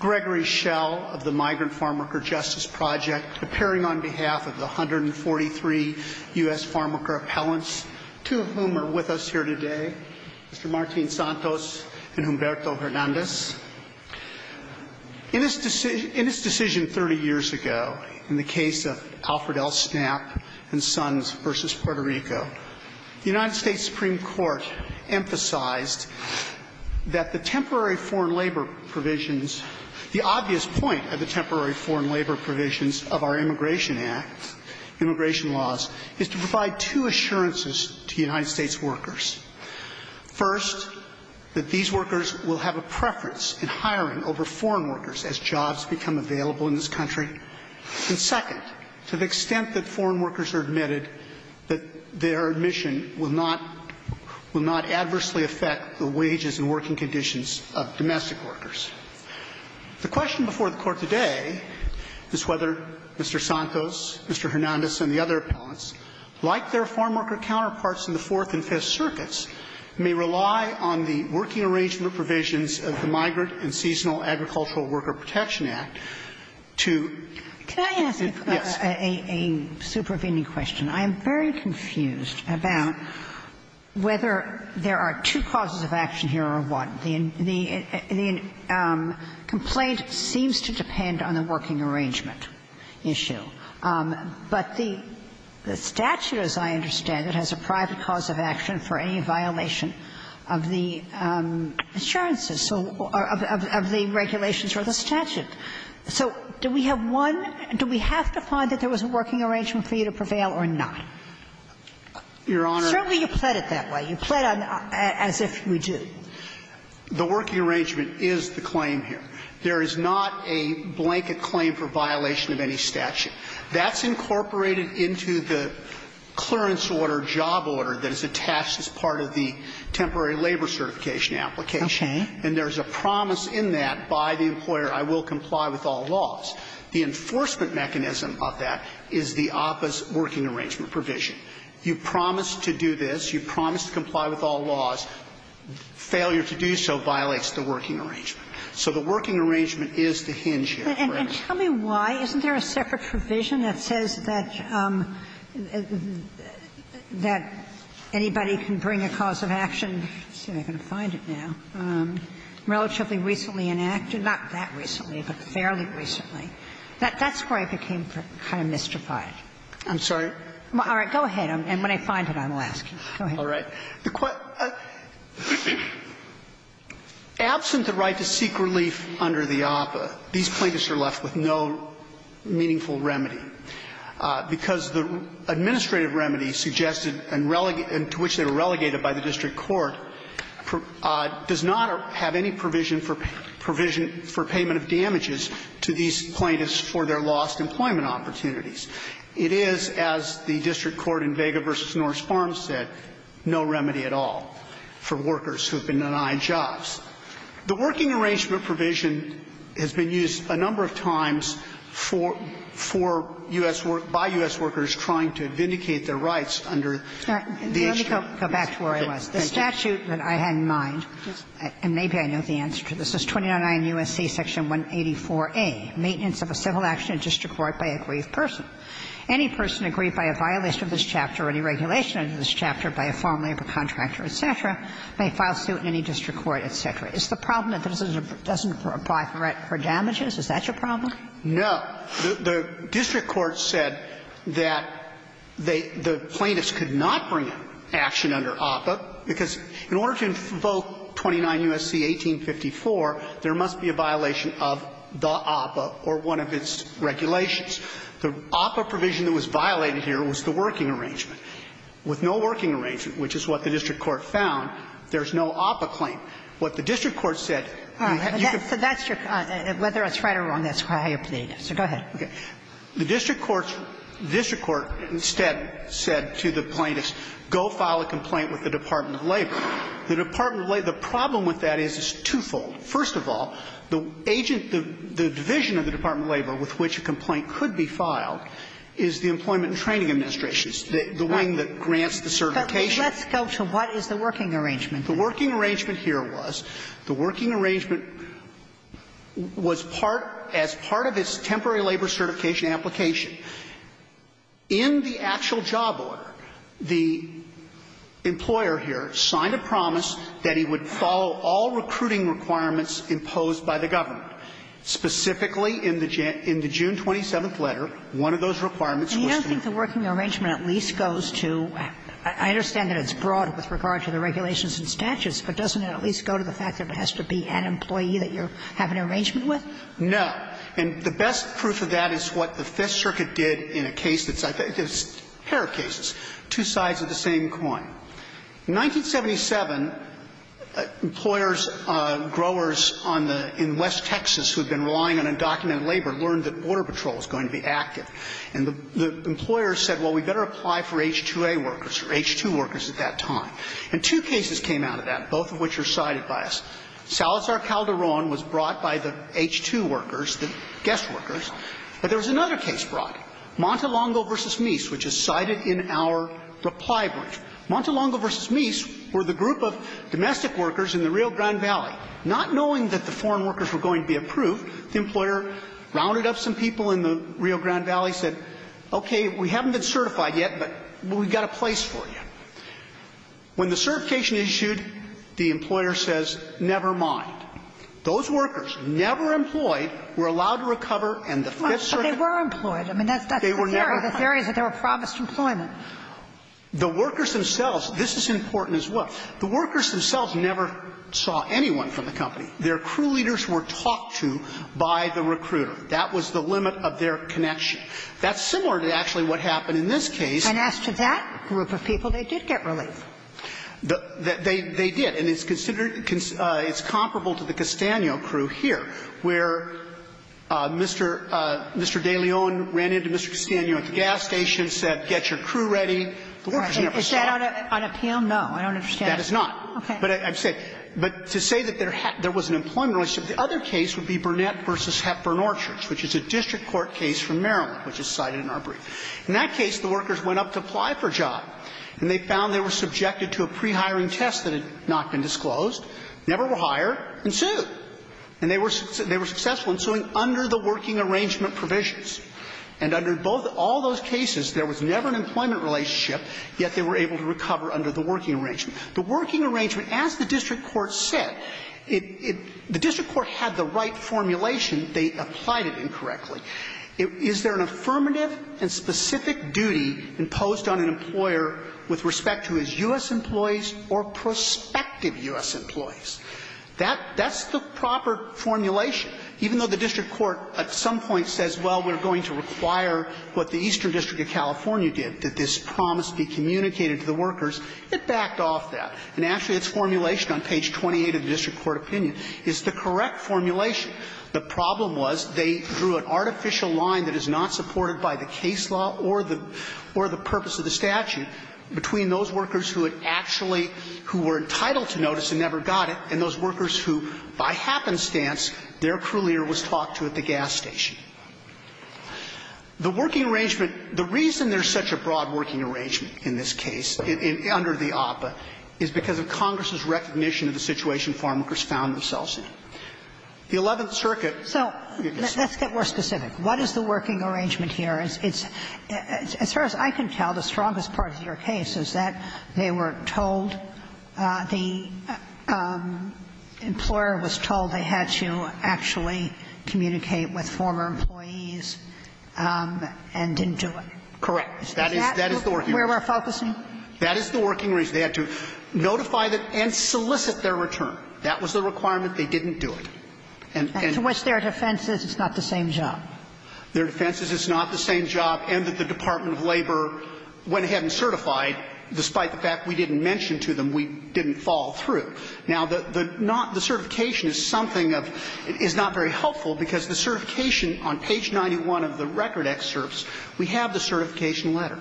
Gregory Schell of the Migrant Farmworker Justice Project, appearing on behalf of the 143 U.S. farmworker appellants, two of whom are with us here today, Mr. Martín Santos and Humberto Hernández. In its decision 30 years ago, in the case of Alfred L. Snapp and Sons v. Puerto Rico, the United States Supreme Court emphasized that the temporary foreign labor provisions, the obvious point of the temporary foreign labor provisions of our immigration act, immigration laws, is to provide two assurances to United States workers. First, that these workers will have a preference in hiring over foreign workers as jobs become available in this country. And second, to the extent that foreign workers are admitted, that their admission will not adversely affect the wages and working conditions of domestic workers. The question before the Court today is whether Mr. Santos, Mr. Hernández, and the other U.S. farmworker appellants, like their farmworker counterparts in the Fourth and Fifth Circuits, may rely on the working arrangement provisions of the Migrant and Seasonal Agricultural Worker Protection Act to do so. Yes. Ginsburg. Can I ask a supervening question? I am very confused about whether there are two causes of action here or one. The complaint seems to depend on the working arrangement issue. But the statute, as I understand it, has a private cause of action for any violation of the assurances, so of the regulations or the statute. So do we have one? Do we have to find that there was a working arrangement for you to prevail or not? Your Honor. Certainly, you pled it that way. You pled as if you do. The working arrangement is the claim here. There is not a blanket claim for violation of any statute. That's incorporated into the clearance order, job order, that is attached as part of the temporary labor certification application. Okay. And there is a promise in that by the employer, I will comply with all laws. The enforcement mechanism of that is the opposed working arrangement provision. You promise to do this, you promise to comply with all laws. Failure to do so violates the working arrangement. So the working arrangement is the hinge here. And tell me why isn't there a separate provision that says that anybody can bring a cause of action, let's see if I can find it now, relatively recently enacted, not that recently, but fairly recently. That's where I became kind of mystified. I'm sorry? All right. Go ahead. And when I find it, I will ask you. Go ahead. All right. Absent the right to seek relief under the APA, these plaintiffs are left with no meaningful remedy, because the administrative remedy suggested and to which they were relegated by the district court does not have any provision for payment of damages to these plaintiffs for their lost employment opportunities. It is, as the district court in Vega v. Norse Farms said, no remedy at all for workers who have been denied jobs. The working arrangement provision has been used a number of times for U.S. workers trying to vindicate their rights under the H.W.A. Let me go back to where I was. The statute that I had in mind, and maybe I know the answer to this, is 299 U.S.C. Section 184a, maintenance of a civil action in district court by a grieved person. Any person aggrieved by a violation of this chapter or any regulation under this chapter by a farm labor contractor, et cetera, may file suit in any district court, et cetera. Is the problem that this doesn't apply for damages? Is that your problem? No. The district court said that they the plaintiffs could not bring action under APA, because in order to invoke 299 U.S.C. 1854, there must be a violation of the APA or one of its regulations. The APA provision that was violated here was the working arrangement. With no working arrangement, which is what the district court found, there's no APA claim. What the district court said, you could go to the plaintiffs, go file a complaint to the Department of Labor. The Department of Labor, the problem with that is it's twofold. First of all, the agent, the division of the Department of Labor with which a complaint could be filed is the Employment and Training Administration. It's the wing that grants the certification. But let's go to what is the working arrangement. The working arrangement here was, the working arrangement was part, as part of its temporary labor certification application. In the actual job order, the employer here signed a promise that he would follow all recruiting requirements imposed by the government. Specifically, in the June 27th letter, one of those requirements was to meet the working arrangement. Kagan. And you don't think the working arrangement at least goes to – I understand that it's broad with regard to the regulations and statutes, but doesn't it at least go to the fact that it has to be an employee that you're having an arrangement with? No. And the best proof of that is what the Fifth Circuit did in a case that's – a pair of cases, two sides of the same coin. In 1977, employers, growers on the – in West Texas who had been relying on undocumented labor learned that Border Patrol was going to be active. And the employer said, well, we better apply for H-2A workers or H-2 workers at that time. And two cases came out of that, both of which are cited by us. Salazar Calderon was brought by the H-2 workers, the guest workers. But there was another case brought, Montelongo v. Meese, which is cited in our reply brief. Montelongo v. Meese were the group of domestic workers in the Rio Grande Valley. Not knowing that the foreign workers were going to be approved, the employer rounded up some people in the Rio Grande Valley, said, okay, we haven't been certified yet, but we've got a place for you. When the certification is issued, the employer says, never mind. Those workers, never employed, were allowed to recover, and the Fifth Circuit But they were employed. I mean, that's the theory. The theory is that they were promised employment. The workers themselves – this is important as well. The workers themselves never saw anyone from the company. Their crew leaders were talked to by the recruiter. That was the limit of their connection. That's similar to actually what happened in this case. And as to that group of people, they did get relief. They did. And it's considered – it's comparable to the Castaño crew here, where Mr. DeLeon ran into Mr. Castaño at the gas station, said, get your crew ready. Is that on appeal? No, I don't understand. That is not. Okay. But I'm saying – but to say that there was an employment relationship, the other case would be Burnett v. Hepburn Orchards, which is a district court case from Maryland, which is cited in our brief. In that case, the workers went up to apply for a job, and they found they were subjected to a pre-hiring test that had not been disclosed, never were hired, and sued. And they were successful in suing under the working arrangement provisions. And under both – all those cases, there was never an employment relationship, yet they were able to recover under the working arrangement. The working arrangement, as the district court said, it – the district court had the right formulation. They applied it incorrectly. Is there an affirmative and specific duty imposed on an employer with respect to his U.S. employees or prospective U.S. employees? That's the proper formulation. Even though the district court at some point says, well, we're going to require what the Eastern District of California did, that this promise be communicated to the workers, it backed off that. And actually, its formulation on page 28 of the district court opinion is the correct formulation. The problem was they drew an artificial line that is not supported by the case law or the – or the purpose of the statute between those workers who had actually – who were entitled to notice and never got it, and those workers who, by happenstance, their crew leader was talked to at the gas station. The working arrangement – the reason there's such a broad working arrangement in this case, under the OPA, is because of Congress's recognition of the situation farmworkers found themselves in. The Eleventh Circuit – So let's get more specific. What is the working arrangement here? It's – as far as I can tell, the strongest part of your case is that they were told – the employer was told they had to actually communicate with former employees and didn't do it. Correct. Is that where we're focusing? That is the working reason. They had to notify and solicit their return. That was the requirement. They didn't do it. And to which their defense is it's not the same job. Their defense is it's not the same job and that the Department of Labor went ahead and certified, despite the fact we didn't mention to them, we didn't fall through. Now, the not – the certification is something of – is not very helpful because the certification on page 91 of the record excerpts, we have the certification letter.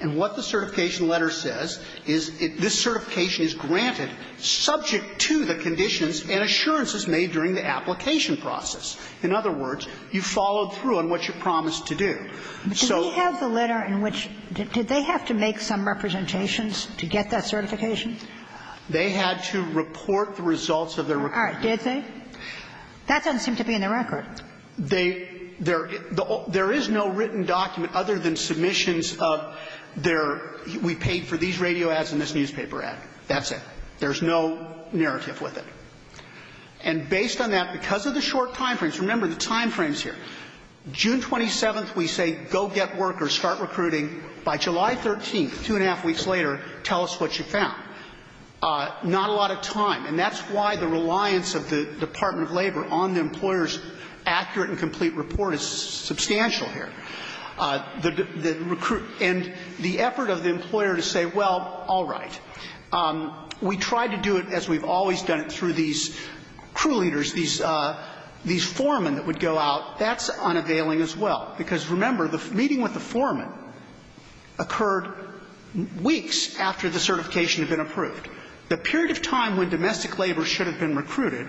And what the certification letter says is this certification is granted subject to the conditions and assurances made during the application process. In other words, you followed through on what you promised to do. So – Did they have the letter in which – did they have to make some representations to get that certification? They had to report the results of their – All right. Did they? That doesn't seem to be in the record. They – there – there is no written document other than submissions of their – we paid for these radio ads and this newspaper ad. That's it. There's no narrative with it. And based on that, because of the short time frames, remember the time frames here, June 27th, we say go get work or start recruiting. By July 13th, two and a half weeks later, tell us what you found. Not a lot of time. And that's why the reliance of the Department of Labor on the employer's accurate and complete report is substantial here. The – the recruit – and the effort of the employer to say, well, all right, we tried to do it as we've always done it through these crew leaders, these – these foremen that would go out, that's unavailing as well. Because remember, the meeting with the foreman occurred weeks after the certification had been approved. The period of time when domestic labor should have been recruited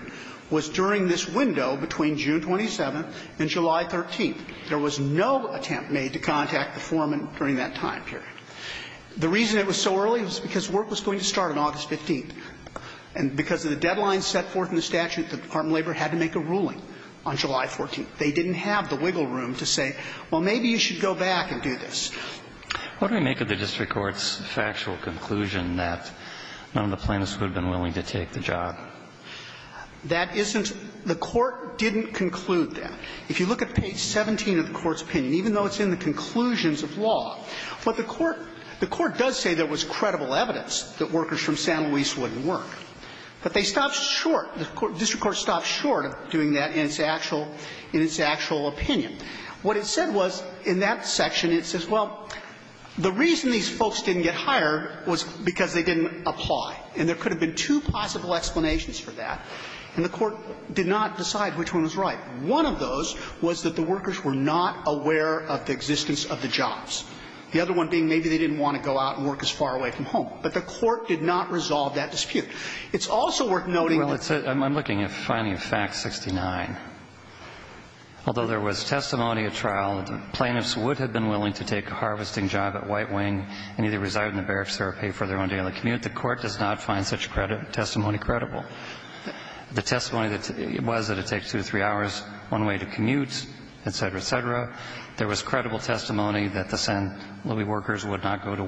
was during this window between June 27th and July 13th. There was no attempt made to contact the foreman during that time period. The reason it was so early was because work was going to start on August 15th. And because of the deadline set forth in the statute, the Department of Labor had to make a ruling on July 14th. They didn't have the wiggle room to say, well, maybe you should go back and do this. What do we make of the district court's factual conclusion that none of the plaintiffs would have been willing to take the job? That isn't – the court didn't conclude that. If you look at page 17 of the court's opinion, even though it's in the conclusions of law, what the court – the court does say there was credible evidence that workers from San Luis wouldn't work. But they stopped short – the district court stopped short of doing that in its actual – in its actual opinion. What it said was, in that section, it says, well, the reason these folks didn't get hired was because they didn't apply. And there could have been two possible explanations for that, and the court did not decide which one was right. One of those was that the workers were not aware of the existence of the jobs. The other one being maybe they didn't want to go out and work as far away from home. But the court did not resolve that dispute. It's also worth noting that the – Well, it's – I'm looking at finding of fact 69. Although there was testimony at trial that the plaintiffs would have been willing to take a harvesting job at White Wing and either reside in the barracks or pay for their own daily commute, the court does not find such testimony credible. The testimony was that it takes two to three hours one way to commute, et cetera, et cetera. There was credible testimony that the San Luis workers would not go to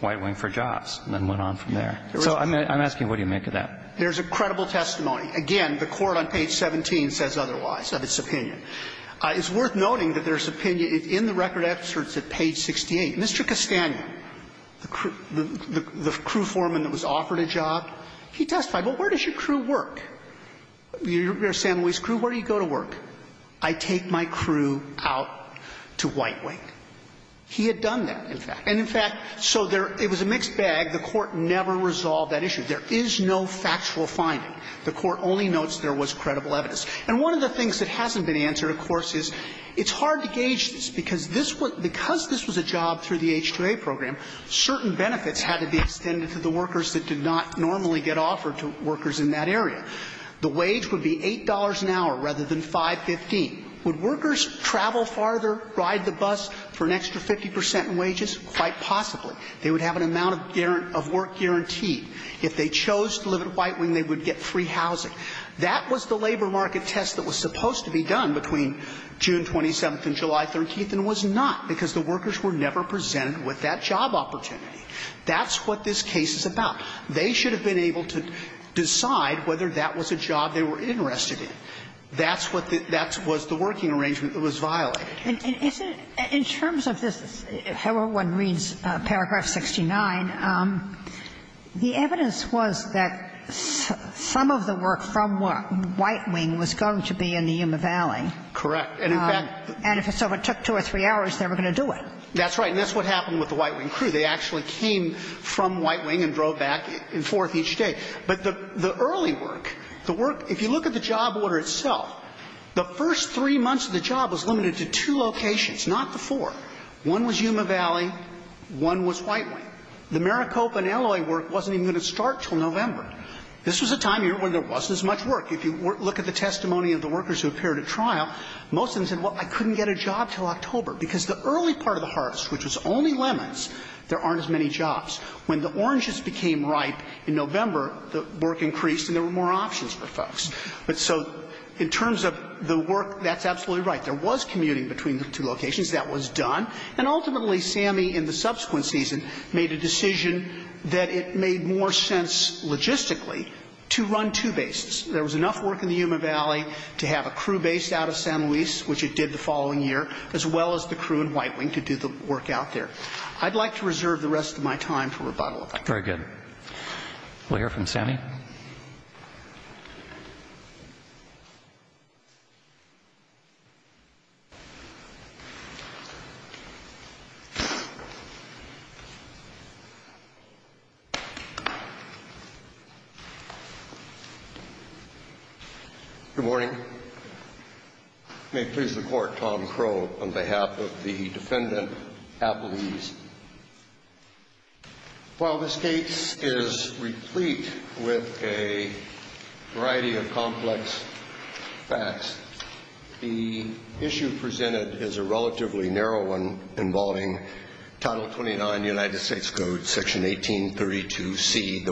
White Wing for jobs and then went on from there. So I'm asking, what do you make of that? There's a credible testimony. Again, the court on page 17 says otherwise of its opinion. It's worth noting that there's opinion in the record excerpts at page 68. Mr. Castagna, the crew foreman that was offered a job, he testified, well, where does your crew work? Your San Luis crew, where do you go to work? I take my crew out to White Wing. He had done that, in fact. And in fact, so there – it was a mixed bag. The court never resolved that issue. There is no factual finding. The court only notes there was credible evidence. And one of the things that hasn't been answered, of course, is it's hard to gauge this, because this was – because this was a job through the H-2A program, certain benefits had to be extended to the workers that did not normally get offered to workers in that area. The wage would be $8 an hour rather than $5.15. Would workers travel farther, ride the bus for an extra 50 percent in wages? Quite possibly. They would have an amount of work guaranteed. If they chose to live at White Wing, they would get free housing. That was the labor market test that was supposed to be done between June 27th and July 13th, and it was not, because the workers were never presented with that job opportunity. That's what this case is about. They should have been able to decide whether that was a job they were interested in. That's what the – that was the working arrangement that was violated. And is it – in terms of this, however one reads paragraph 69, the evidence was that some of the work from White Wing was going to be in the Yuma Valley. Correct. And in fact – And if it took two or three hours, they were going to do it. That's right. And that's what happened with the White Wing crew. They actually came from White Wing and drove back and forth each day. But the early work, the work – if you look at the job order itself, the first three months of the job was limited to two locations, not the four. One was Yuma Valley. One was White Wing. The Maricopa and Illinois work wasn't even going to start until November. This was a time when there wasn't as much work. If you look at the testimony of the workers who appeared at trial, most of them said, well, I couldn't get a job until October, because the early part of the harvest, which was only lemons, there aren't as many jobs. When the oranges became ripe in November, the work increased and there were more options for folks. But so in terms of the work, that's absolutely right. There was commuting between the two locations. That was done. And ultimately, SAMI in the subsequent season made a decision that it made more sense logistically to run two bases. There was enough work in the Yuma Valley to have a crew base out of San Luis, which it did the following year, as well as the crew in White Wing to do the work out there. I'd like to reserve the rest of my time for rebuttal. Very good. We'll hear from SAMI. Good morning. May it please the Court, Tom Crowe, on behalf of the defendant, Appleby's. While this case is replete with a variety of complex facts, the issue presented is a relatively narrow one involving Title 29, United States Code, Section 1832C,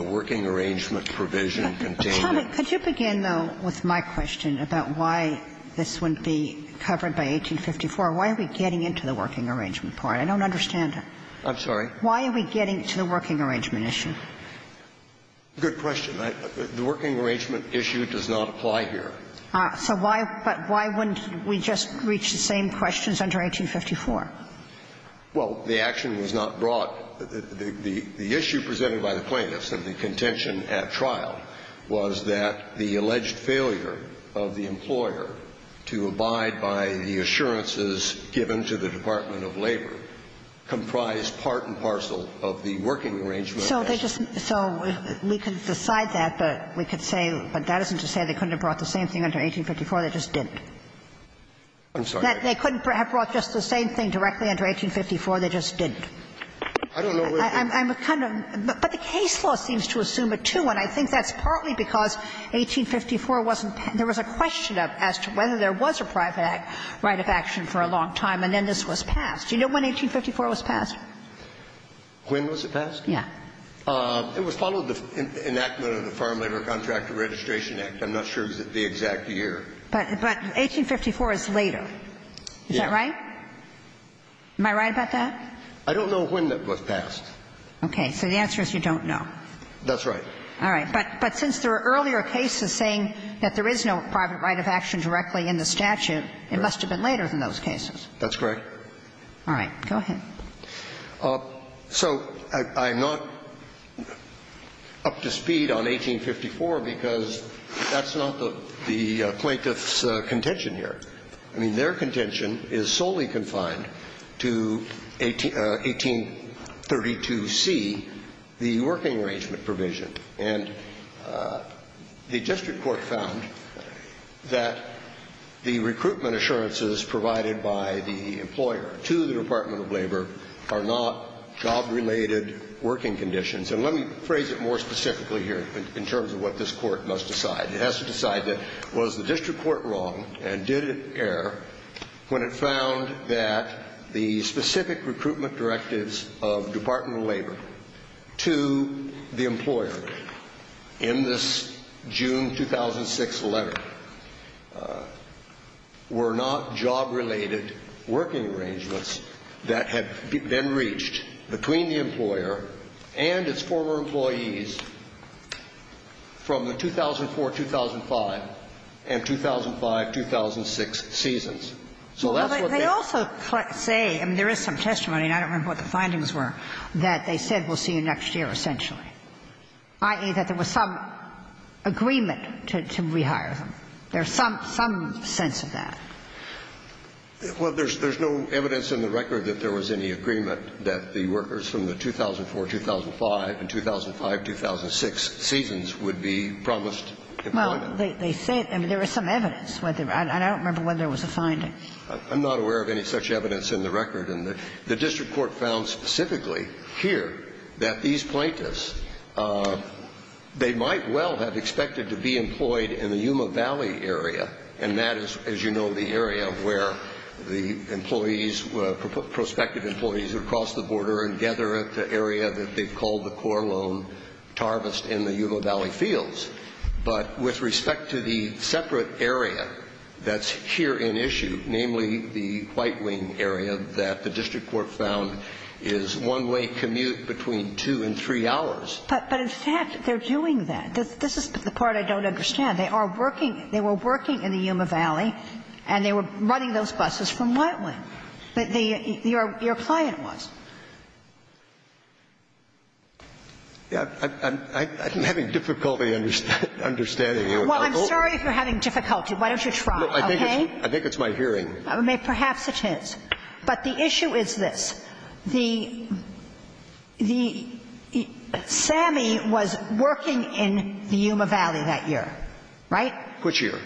Could you begin, though, with my question about why this wouldn't be covered by 1854? Why are we getting into the working arrangement part? I don't understand it. I'm sorry? Why are we getting to the working arrangement issue? Good question. The working arrangement issue does not apply here. So why — but why wouldn't we just reach the same questions under 1854? Well, the action was not brought — the issue presented by the plaintiffs of the contention at trial was that the alleged failure of the employer to abide by the assurances given to the Department of Labor comprised part and parcel of the working arrangement. So they just — so we could decide that, but we could say, but that isn't to say they couldn't have brought the same thing under 1854. They just didn't. I'm sorry? They couldn't have brought just the same thing directly under 1854. They just didn't. I don't know where we're going. I'm kind of — but the case law seems to assume it, too, and I think that's partly because 1854 wasn't — there was a question of as to whether there was a private act right of action for a long time, and then this was passed. Do you know when 1854 was passed? When was it passed? Yeah. It was followed the enactment of the Farm Labor Contract Registration Act. I'm not sure the exact year. But 1854 is later. Yeah. Is that right? Am I right about that? I don't know when that was passed. Okay. So the answer is you don't know. That's right. All right. But since there were earlier cases saying that there is no private right of action directly in the statute, it must have been later than those cases. That's correct. All right. Go ahead. So I'm not up to speed on 1854 because that's not the plaintiff's contention here. I mean, their contention is solely confined to 1832c, the working arrangement provision. And the district court found that the recruitment assurances provided by the employer to the Department of Labor are not job-related working conditions. And let me phrase it more specifically here in terms of what this Court must decide. It has to decide that was the district court wrong and did it err when it found that the specific recruitment directives of Department of Labor to the employer in this June 2006 letter were not job-related working arrangements that had been reached between the employer and its former employees from the 2004-2005 and 2005-2006 seasons. So that's what they say. Well, they also say, and there is some testimony, and I don't remember what the findings were, that they said we'll see you next year essentially, i.e., that there was some agreement to rehire them. There's some sense of that. Well, there's no evidence in the record that there was any agreement, that the workers from the 2004-2005 and 2005-2006 seasons would be promised employment. Well, they say it. I mean, there is some evidence. I don't remember whether there was a finding. I'm not aware of any such evidence in the record. And the district court found specifically here that these plaintiffs, they might well have expected to be employed in the Yuma Valley area, and that is, as you know, the area where the employees, prospective employees would cross the border and gather at the area that they've called the core loan harvest in the Yuma Valley fields. But with respect to the separate area that's here in issue, namely the White Wing area, that the district court found is one-way commute between two and three hours. But in fact, they're doing that. This is the part I don't understand. They are working – they were working in the Yuma Valley, and they were running those buses from White Wing. But the – your client was. I'm having difficulty understanding you. Well, I'm sorry if you're having difficulty. Why don't you try, okay? I think it's my hearing. I mean, perhaps it is. But the issue is this. The – the – Sammy was working in the Yuma Valley that year. Right? Which year?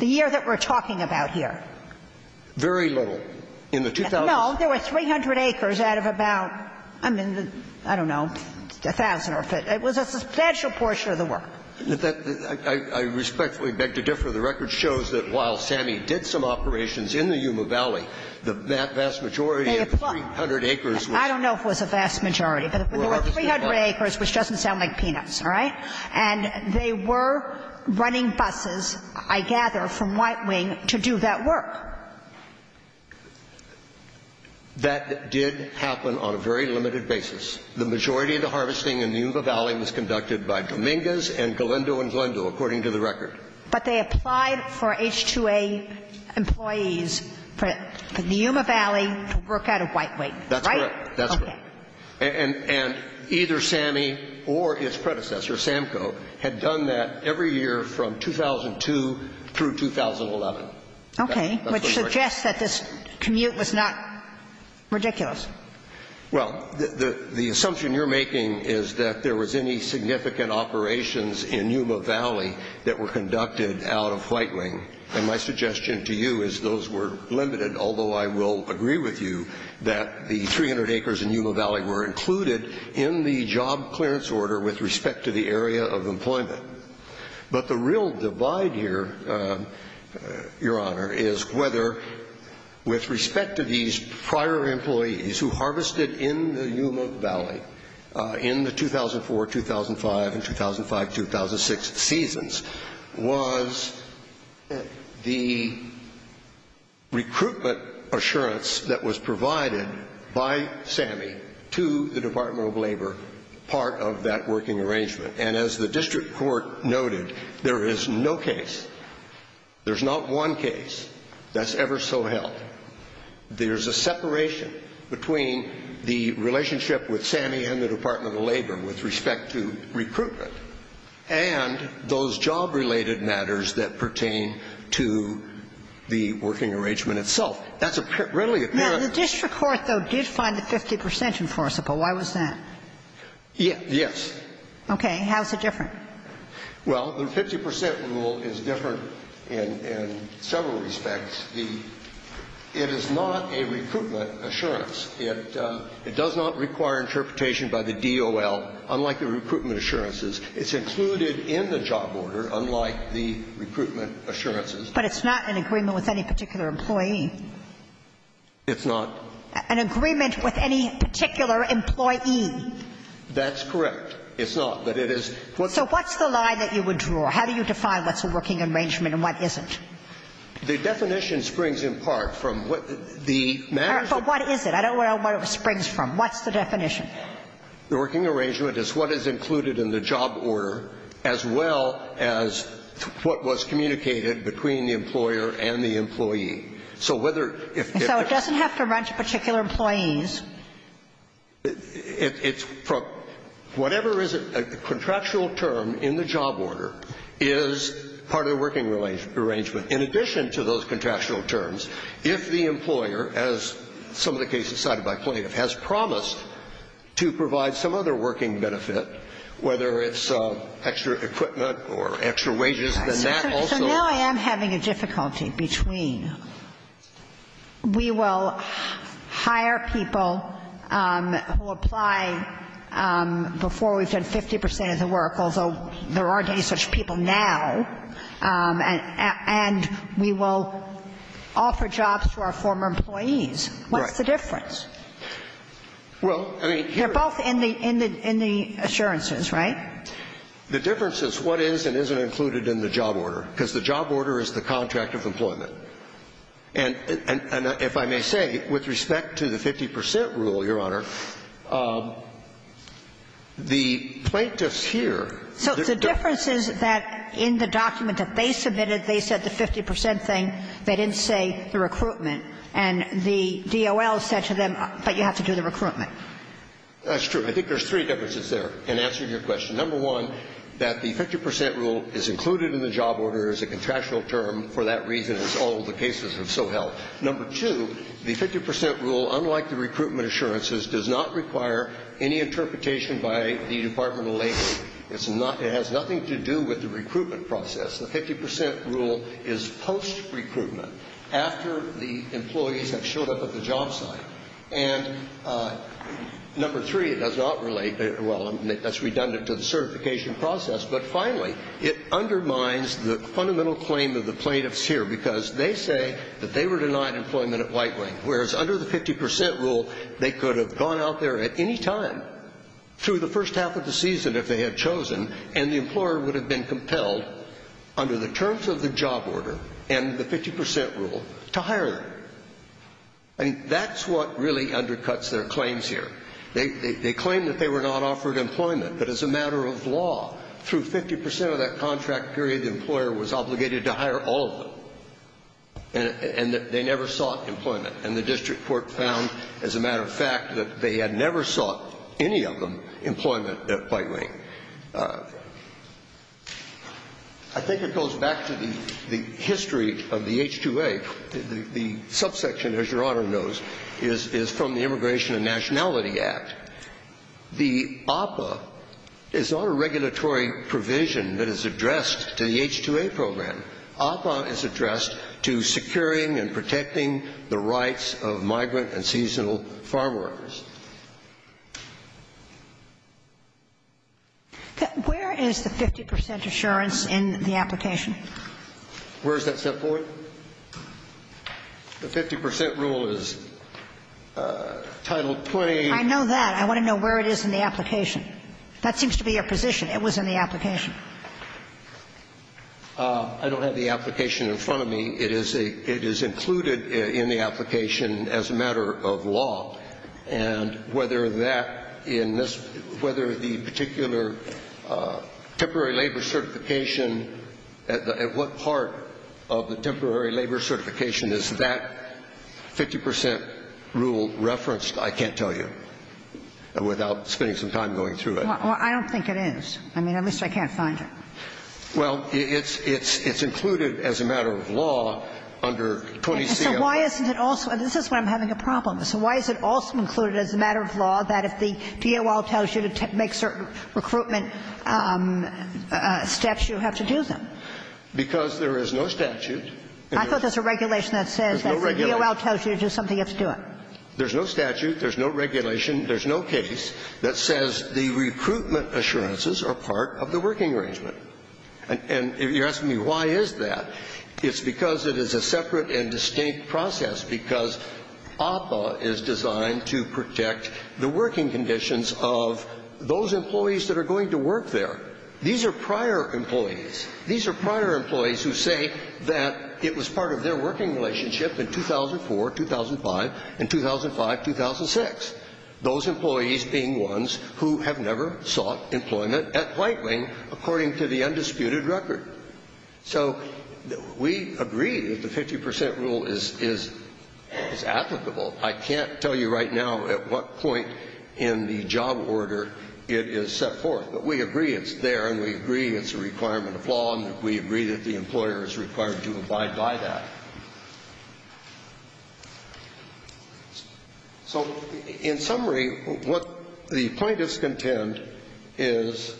The year that we're talking about here. Very little. In the 2000s? No. There were 300 acres out of about, I mean, I don't know, 1,000 or – it was a substantial portion of the work. I respectfully beg to differ. The record shows that while Sammy did some operations in the Yuma Valley, the vast majority of the 300 acres was – I don't know if it was a vast majority, but there were 300 acres, which doesn't sound like peanuts. All right? And they were running buses, I gather, from White Wing to do that work. That did happen on a very limited basis. The majority of the harvesting in the Yuma Valley was conducted by Dominguez and Galindo and Glendo, according to the record. But they applied for H-2A employees for the Yuma Valley to work out of White Wing, right? That's correct. That's correct. And either Sammy or its predecessor, SAMCO, had done that every year from 2002 through 2011. Okay. Which suggests that this commute was not ridiculous. Well, the assumption you're making is that there was any significant operations in Yuma Valley that were conducted out of White Wing. And my suggestion to you is those were limited, although I will agree with you that the 300 acres in Yuma Valley were included in the job clearance order with respect to the area of employment. But the real divide here, Your Honor, is whether, with respect to these prior employees who harvested in the Yuma Valley in the 2004, 2005, and 2005-2006 seasons, was the recruitment assurance that was provided by Sammy to the Department of Labor, part of that working arrangement. And as the district court noted, there is no case, there's not one case that's ever so held. There's a separation between the relationship with Sammy and the Department of Labor with respect to recruitment and those job-related matters that pertain to the working arrangement itself. That's readily apparent. Now, the district court, though, did find the 50 percent enforceable. Why was that? Yes. Okay. How is it different? Well, the 50 percent rule is different in several respects. The – it is not a recruitment assurance. It does not require interpretation by the DOL, unlike the recruitment assurances. It's included in the job order, unlike the recruitment assurances. But it's not in agreement with any particular employee. It's not. An agreement with any particular employee. That's correct. It's not. But it is what's the – So what's the line that you would draw? How do you define what's a working arrangement and what isn't? The definition springs in part from what the matter is. But what is it? I don't know what it springs from. What's the definition? The working arrangement is what is included in the job order, as well as what was communicated between the employer and the employee. So whether – So it doesn't have to run to particular employees. It's – whatever is a contractual term in the job order is part of the working arrangement. In addition to those contractual terms, if the employer, as some of the cases cited by plaintiff, has promised to provide some other working benefit, whether it's extra equipment or extra wages, then that also – So now I am having a difficulty between we will hire people who apply before we've done 50 percent of the work, although there aren't any such people now, and we will offer jobs to our former employees. What's the difference? Well, I mean – They're both in the assurances, right? The difference is what is and isn't included in the job order, because the job order is the contract of employment. And if I may say, with respect to the 50 percent rule, Your Honor, the plaintiffs here – So the difference is that in the document that they submitted, they said the 50 percent thing. They didn't say the recruitment. And the DOL said to them, but you have to do the recruitment. That's true. I think there's three differences there. In answer to your question, number one, that the 50 percent rule is included in the job order is a contractual term for that reason, as all the cases have so held. Number two, the 50 percent rule, unlike the recruitment assurances, does not require any interpretation by the Department of Labor. It has nothing to do with the recruitment process. The 50 percent rule is post-recruitment, after the employees have showed up at the job site. And number three, it does not relate – well, that's redundant to the certification process. But finally, it undermines the fundamental claim of the plaintiffs here, because they say that they were denied employment at White Wing, whereas under the 50 percent rule, they could have gone out there at any time, through the first half of the season, if they had chosen, and the employer would have been compelled, under the terms of the job order and the 50 percent rule, to hire them. I mean, that's what really undercuts their claims here. They claim that they were not offered employment, but as a matter of law, through 50 percent of that contract period, the employer was obligated to hire all of them, and they never sought employment. And the district court found, as a matter of fact, that they had never sought, any of them, employment at White Wing. I think it goes back to the history of the H-2A. The subsection, as Your Honor knows, is from the Immigration and Nationality Act. The APA is not a regulatory provision that is addressed to the H-2A program. APA is addressed to securing and protecting the rights of migrant and seasonal farm workers. Where is the 50 percent assurance in the application? Where is that set for? The 50 percent rule is Title 20. I know that. I want to know where it is in the application. That seems to be your position. It was in the application. I don't have the application in front of me. It is included in the application as a matter of law. And whether that in this – whether the particular temporary labor certification at the – at what part of the temporary labor certification is that 50 percent rule referenced, I can't tell you, without spending some time going through it. Well, I don't think it is. I mean, at least I can't find it. Well, it's included as a matter of law under 20C. So why isn't it also – this is where I'm having a problem. So why is it also included as a matter of law that if the DOL tells you to make certain recruitment steps, you have to do them? Because there is no statute. I thought there's a regulation that says that if the DOL tells you to do something, you have to do it. There's no statute. There's no regulation. There's no case that says the recruitment assurances are part of the working arrangement. And if you're asking me why is that, it's because it is a separate and distinct process, because APA is designed to protect the working conditions of those employees that are going to work there. These are prior employees. These are prior employees who say that it was part of their working relationship in 2004, 2005, and 2005, 2006, those employees being ones who have never sought employment at Whiteling according to the undisputed record. So we agree that the 50 percent rule is applicable. I can't tell you right now at what point in the job order it is set forth. But we agree it's there, and we agree it's a requirement of law, and we agree that the employer is required to abide by that. So in summary, what the plaintiffs contend is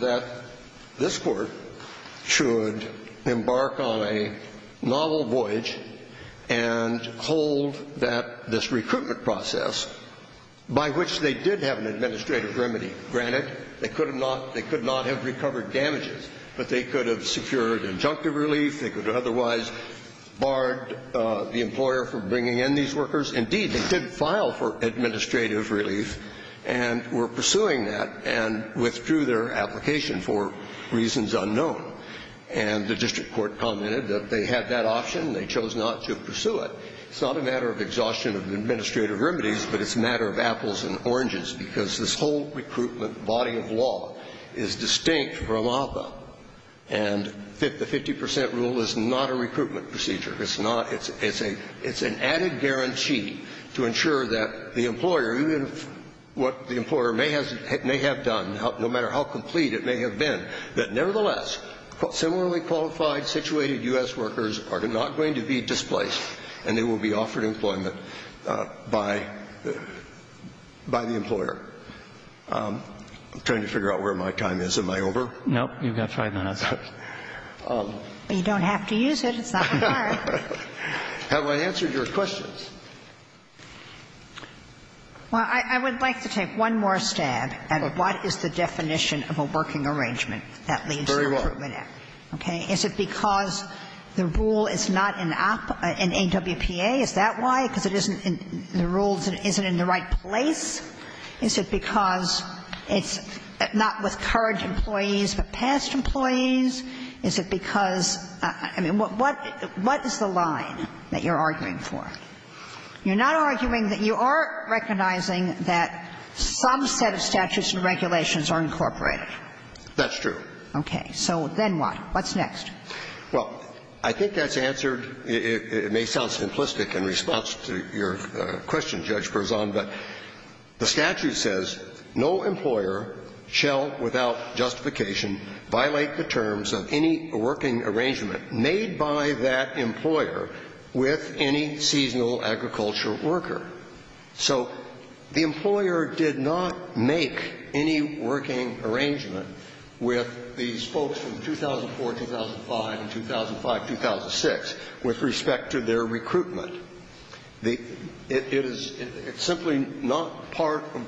that this Court should embark on a novel voyage and hold that this recruitment process, by which they did have an administrative remedy. Granted, they could have not they could not have recovered damages, but they could have secured injunctive relief. They could have otherwise barred the employer from bringing in these workers. Indeed, they did file for administrative relief and were pursuing that and withdrew their application for reasons unknown. And the district court commented that they had that option. They chose not to pursue it. It's not a matter of exhaustion of administrative remedies, but it's a matter of apples and oranges, because this whole recruitment body of law is distinct from APA. And the 50 percent rule is not a recruitment procedure. It's not. It's an added guarantee to ensure that the employer, even what the employer may have done, no matter how complete it may have been, that nevertheless, similarly qualified, situated U.S. workers are not going to be displaced, and they will be offered employment by the employer. I'm trying to figure out where my time is. Am I over? No. You've got five minutes. You don't have to use it. It's not that hard. Have I answered your questions? Well, I would like to take one more stab at what is the definition of a working arrangement that leads to recruitment act. Okay? Is it because the rule is not in AWPA? Is that why? Because it isn't in the rules and it isn't in the right place? Is it because it's not with current employees but past employees? Is it because – I mean, what is the line that you're arguing for? You're not arguing that you are recognizing that some set of statutes and regulations are incorporated. That's true. Okay. So then what? What's next? Well, I think that's answered – it may sound simplistic in response to your question, Judge Perzan, but the statute says no employer shall, without justification, violate the terms of any working arrangement made by that employer with any seasonal agriculture worker. So the employer did not make any working arrangement with these folks from 2004, 2005, and 2005, 2006 with respect to their recruitment. The – it is – it's simply not part of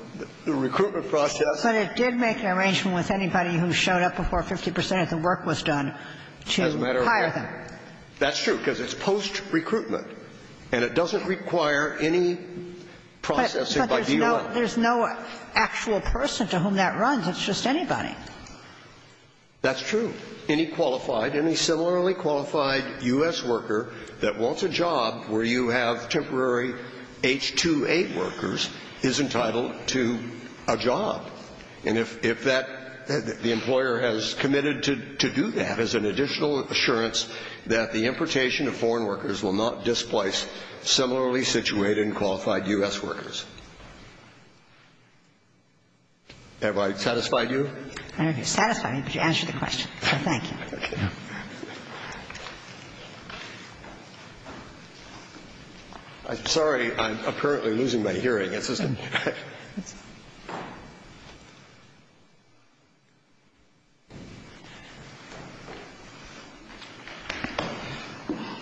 the recruitment process. But it did make an arrangement with anybody who showed up before 50 percent of the work was done to hire them. As a matter of fact, that's true, because it's post-recruitment, and it doesn't require any processing by DOI. But there's no actual person to whom that runs. It's just anybody. That's true. Any qualified – any similarly qualified U.S. worker that wants a job where you have temporary H-2A workers is entitled to a job. And if that – the employer has committed to do that as an additional assurance that the importation of foreign workers will not displace similarly situated and qualified U.S. workers. Have I satisfied you? I don't know if you've satisfied me, but you answered the question. So thank you. I'm sorry. I'm apparently losing my hearing.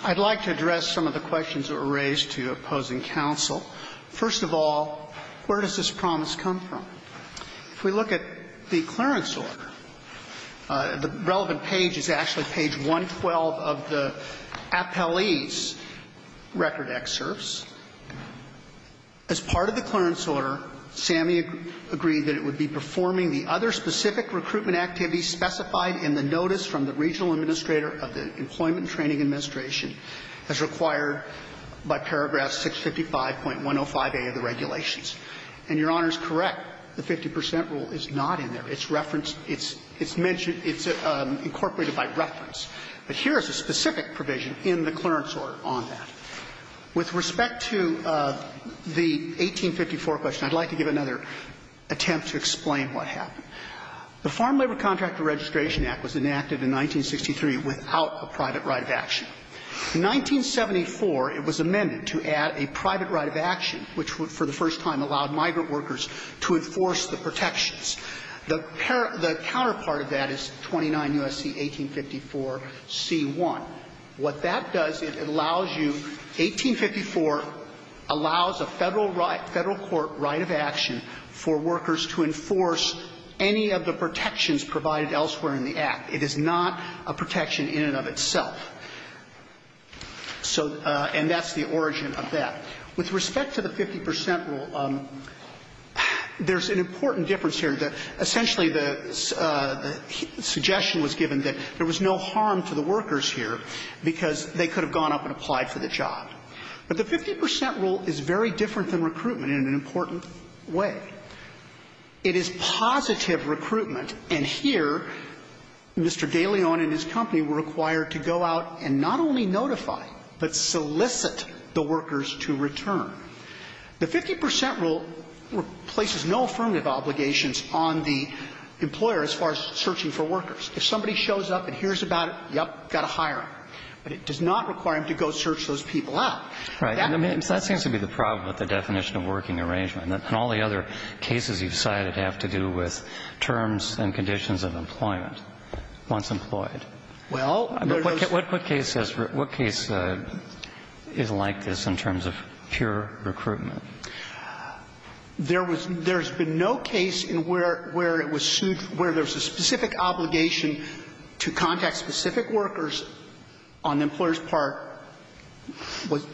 I'd like to address some of the questions that were raised to opposing counsel. First of all, where does this promise come from? If we look at the clearance order, the relevant page is actually page 112 of the appellee's record excerpts. As part of the clearance order, Sammy agreed that it would be performing the other specific recruitment activities specified in the notice from the regional administrator of the Employment Training Administration as required by paragraph 655.105A of the regulations. And Your Honor is correct. The 50 percent rule is not in there. It's referenced – it's mentioned – it's incorporated by reference. But here is a specific provision in the clearance order on that. With respect to the 1854 question, I'd like to give another attempt to explain what happened. The Farm Labor Contractor Registration Act was enacted in 1963 without a private right of action. In 1974, it was amended to add a private right of action which would, for the first time, allow migrant workers to enforce the protections. The counterpart of that is 29 U.S.C. 1854 C.1. What that does, it allows you – 1854 allows a Federal court right of action for workers to enforce any of the protections provided elsewhere in the Act. It is not a protection in and of itself. So – and that's the origin of that. With respect to the 50 percent rule, there's an important difference here. Essentially, the suggestion was given that there was no harm to the workers here because they could have gone up and applied for the job. But the 50 percent rule is very different than recruitment in an important way. It is positive recruitment. And here, Mr. De Leon and his company were required to go out and not only notify, but solicit the workers to return. The 50 percent rule places no affirmative obligations on the employer as far as searching for workers. If somebody shows up and hears about it, yep, got to hire them. But it does not require them to go search those people out. That's the problem with the definition of working arrangement. And all the other cases you've cited have to do with terms and conditions of employment once employed. Well, there goes – What case is like this in terms of pure recruitment? There was – there's been no case in where it was sued where there was a specific obligation to contact specific workers on the employer's part,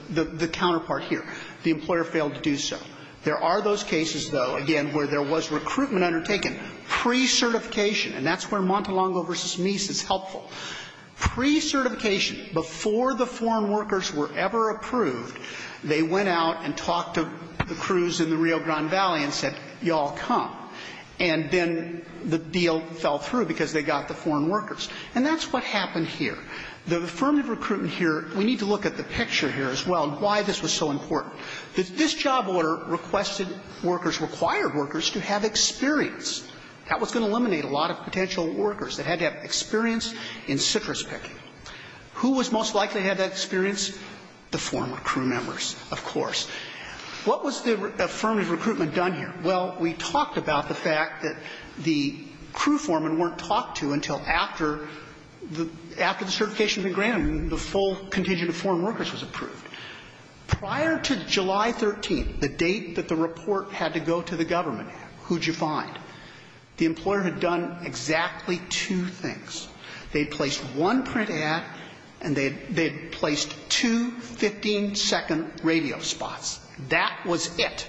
the counterpart here. The employer failed to do so. There are those cases, though, again, where there was recruitment undertaken pre-certification. And that's where Montelongo v. Meese is helpful. Pre-certification, before the foreign workers were ever approved, they went out and talked to the crews in the Rio Grande Valley and said, y'all come. And then the deal fell through because they got the foreign workers. And that's what happened here. The affirmative recruitment here – we need to look at the picture here as well and why this was so important. This job order requested workers – required workers to have experience. That was going to eliminate a lot of potential workers that had to have experience in citrus picking. Who was most likely to have that experience? The former crew members, of course. What was the affirmative recruitment done here? Well, we talked about the fact that the crew foremen weren't talked to until after the – after the certification had been granted and the full contingent of foreign workers was approved. Prior to July 13th, the date that the report had to go to the government, who'd you find? The employer had done exactly two things. They'd placed one print ad and they'd – they'd placed two 15-second radio spots. That was it.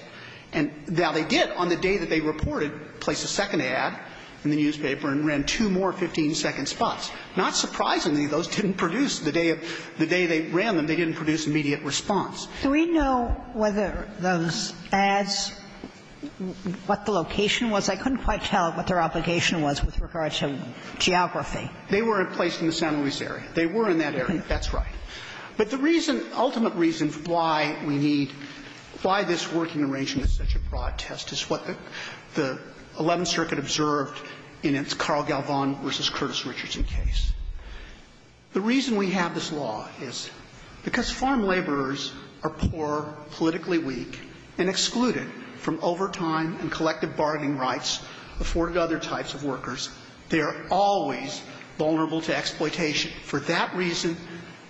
And now they did, on the day that they reported, place a second ad in the newspaper and ran two more 15-second spots. Not surprisingly, those didn't produce – the day of – the day they ran them, they didn't produce immediate response. Do we know whether those ads – what the location was? I couldn't quite tell what their obligation was with regard to geography. They were placed in the San Luis area. They were in that area. That's right. But the reason – ultimate reason why we need – why this working arrangement is such a broad test is what the Eleventh Circuit observed in its Carl Galvan versus Curtis Richardson case. The reason we have this law is because farm laborers are poor, politically weak, and excluded from overtime and collective bargaining rights afforded to other types of workers. They are always vulnerable to exploitation. For that reason,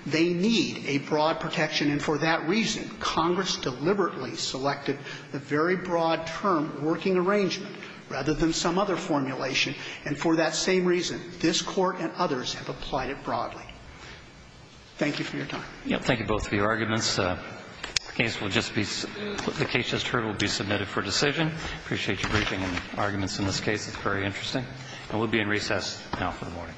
they need a broad protection. And for that reason, Congress deliberately selected the very broad term working arrangement rather than some other formulation. And for that same reason, this Court and others have applied it broadly. Thank you for your time. Thank you both for your arguments. The case will just be – the case just heard will be submitted for decision. Appreciate your briefing and arguments in this case. It's very interesting. And we'll be in recess now for the morning.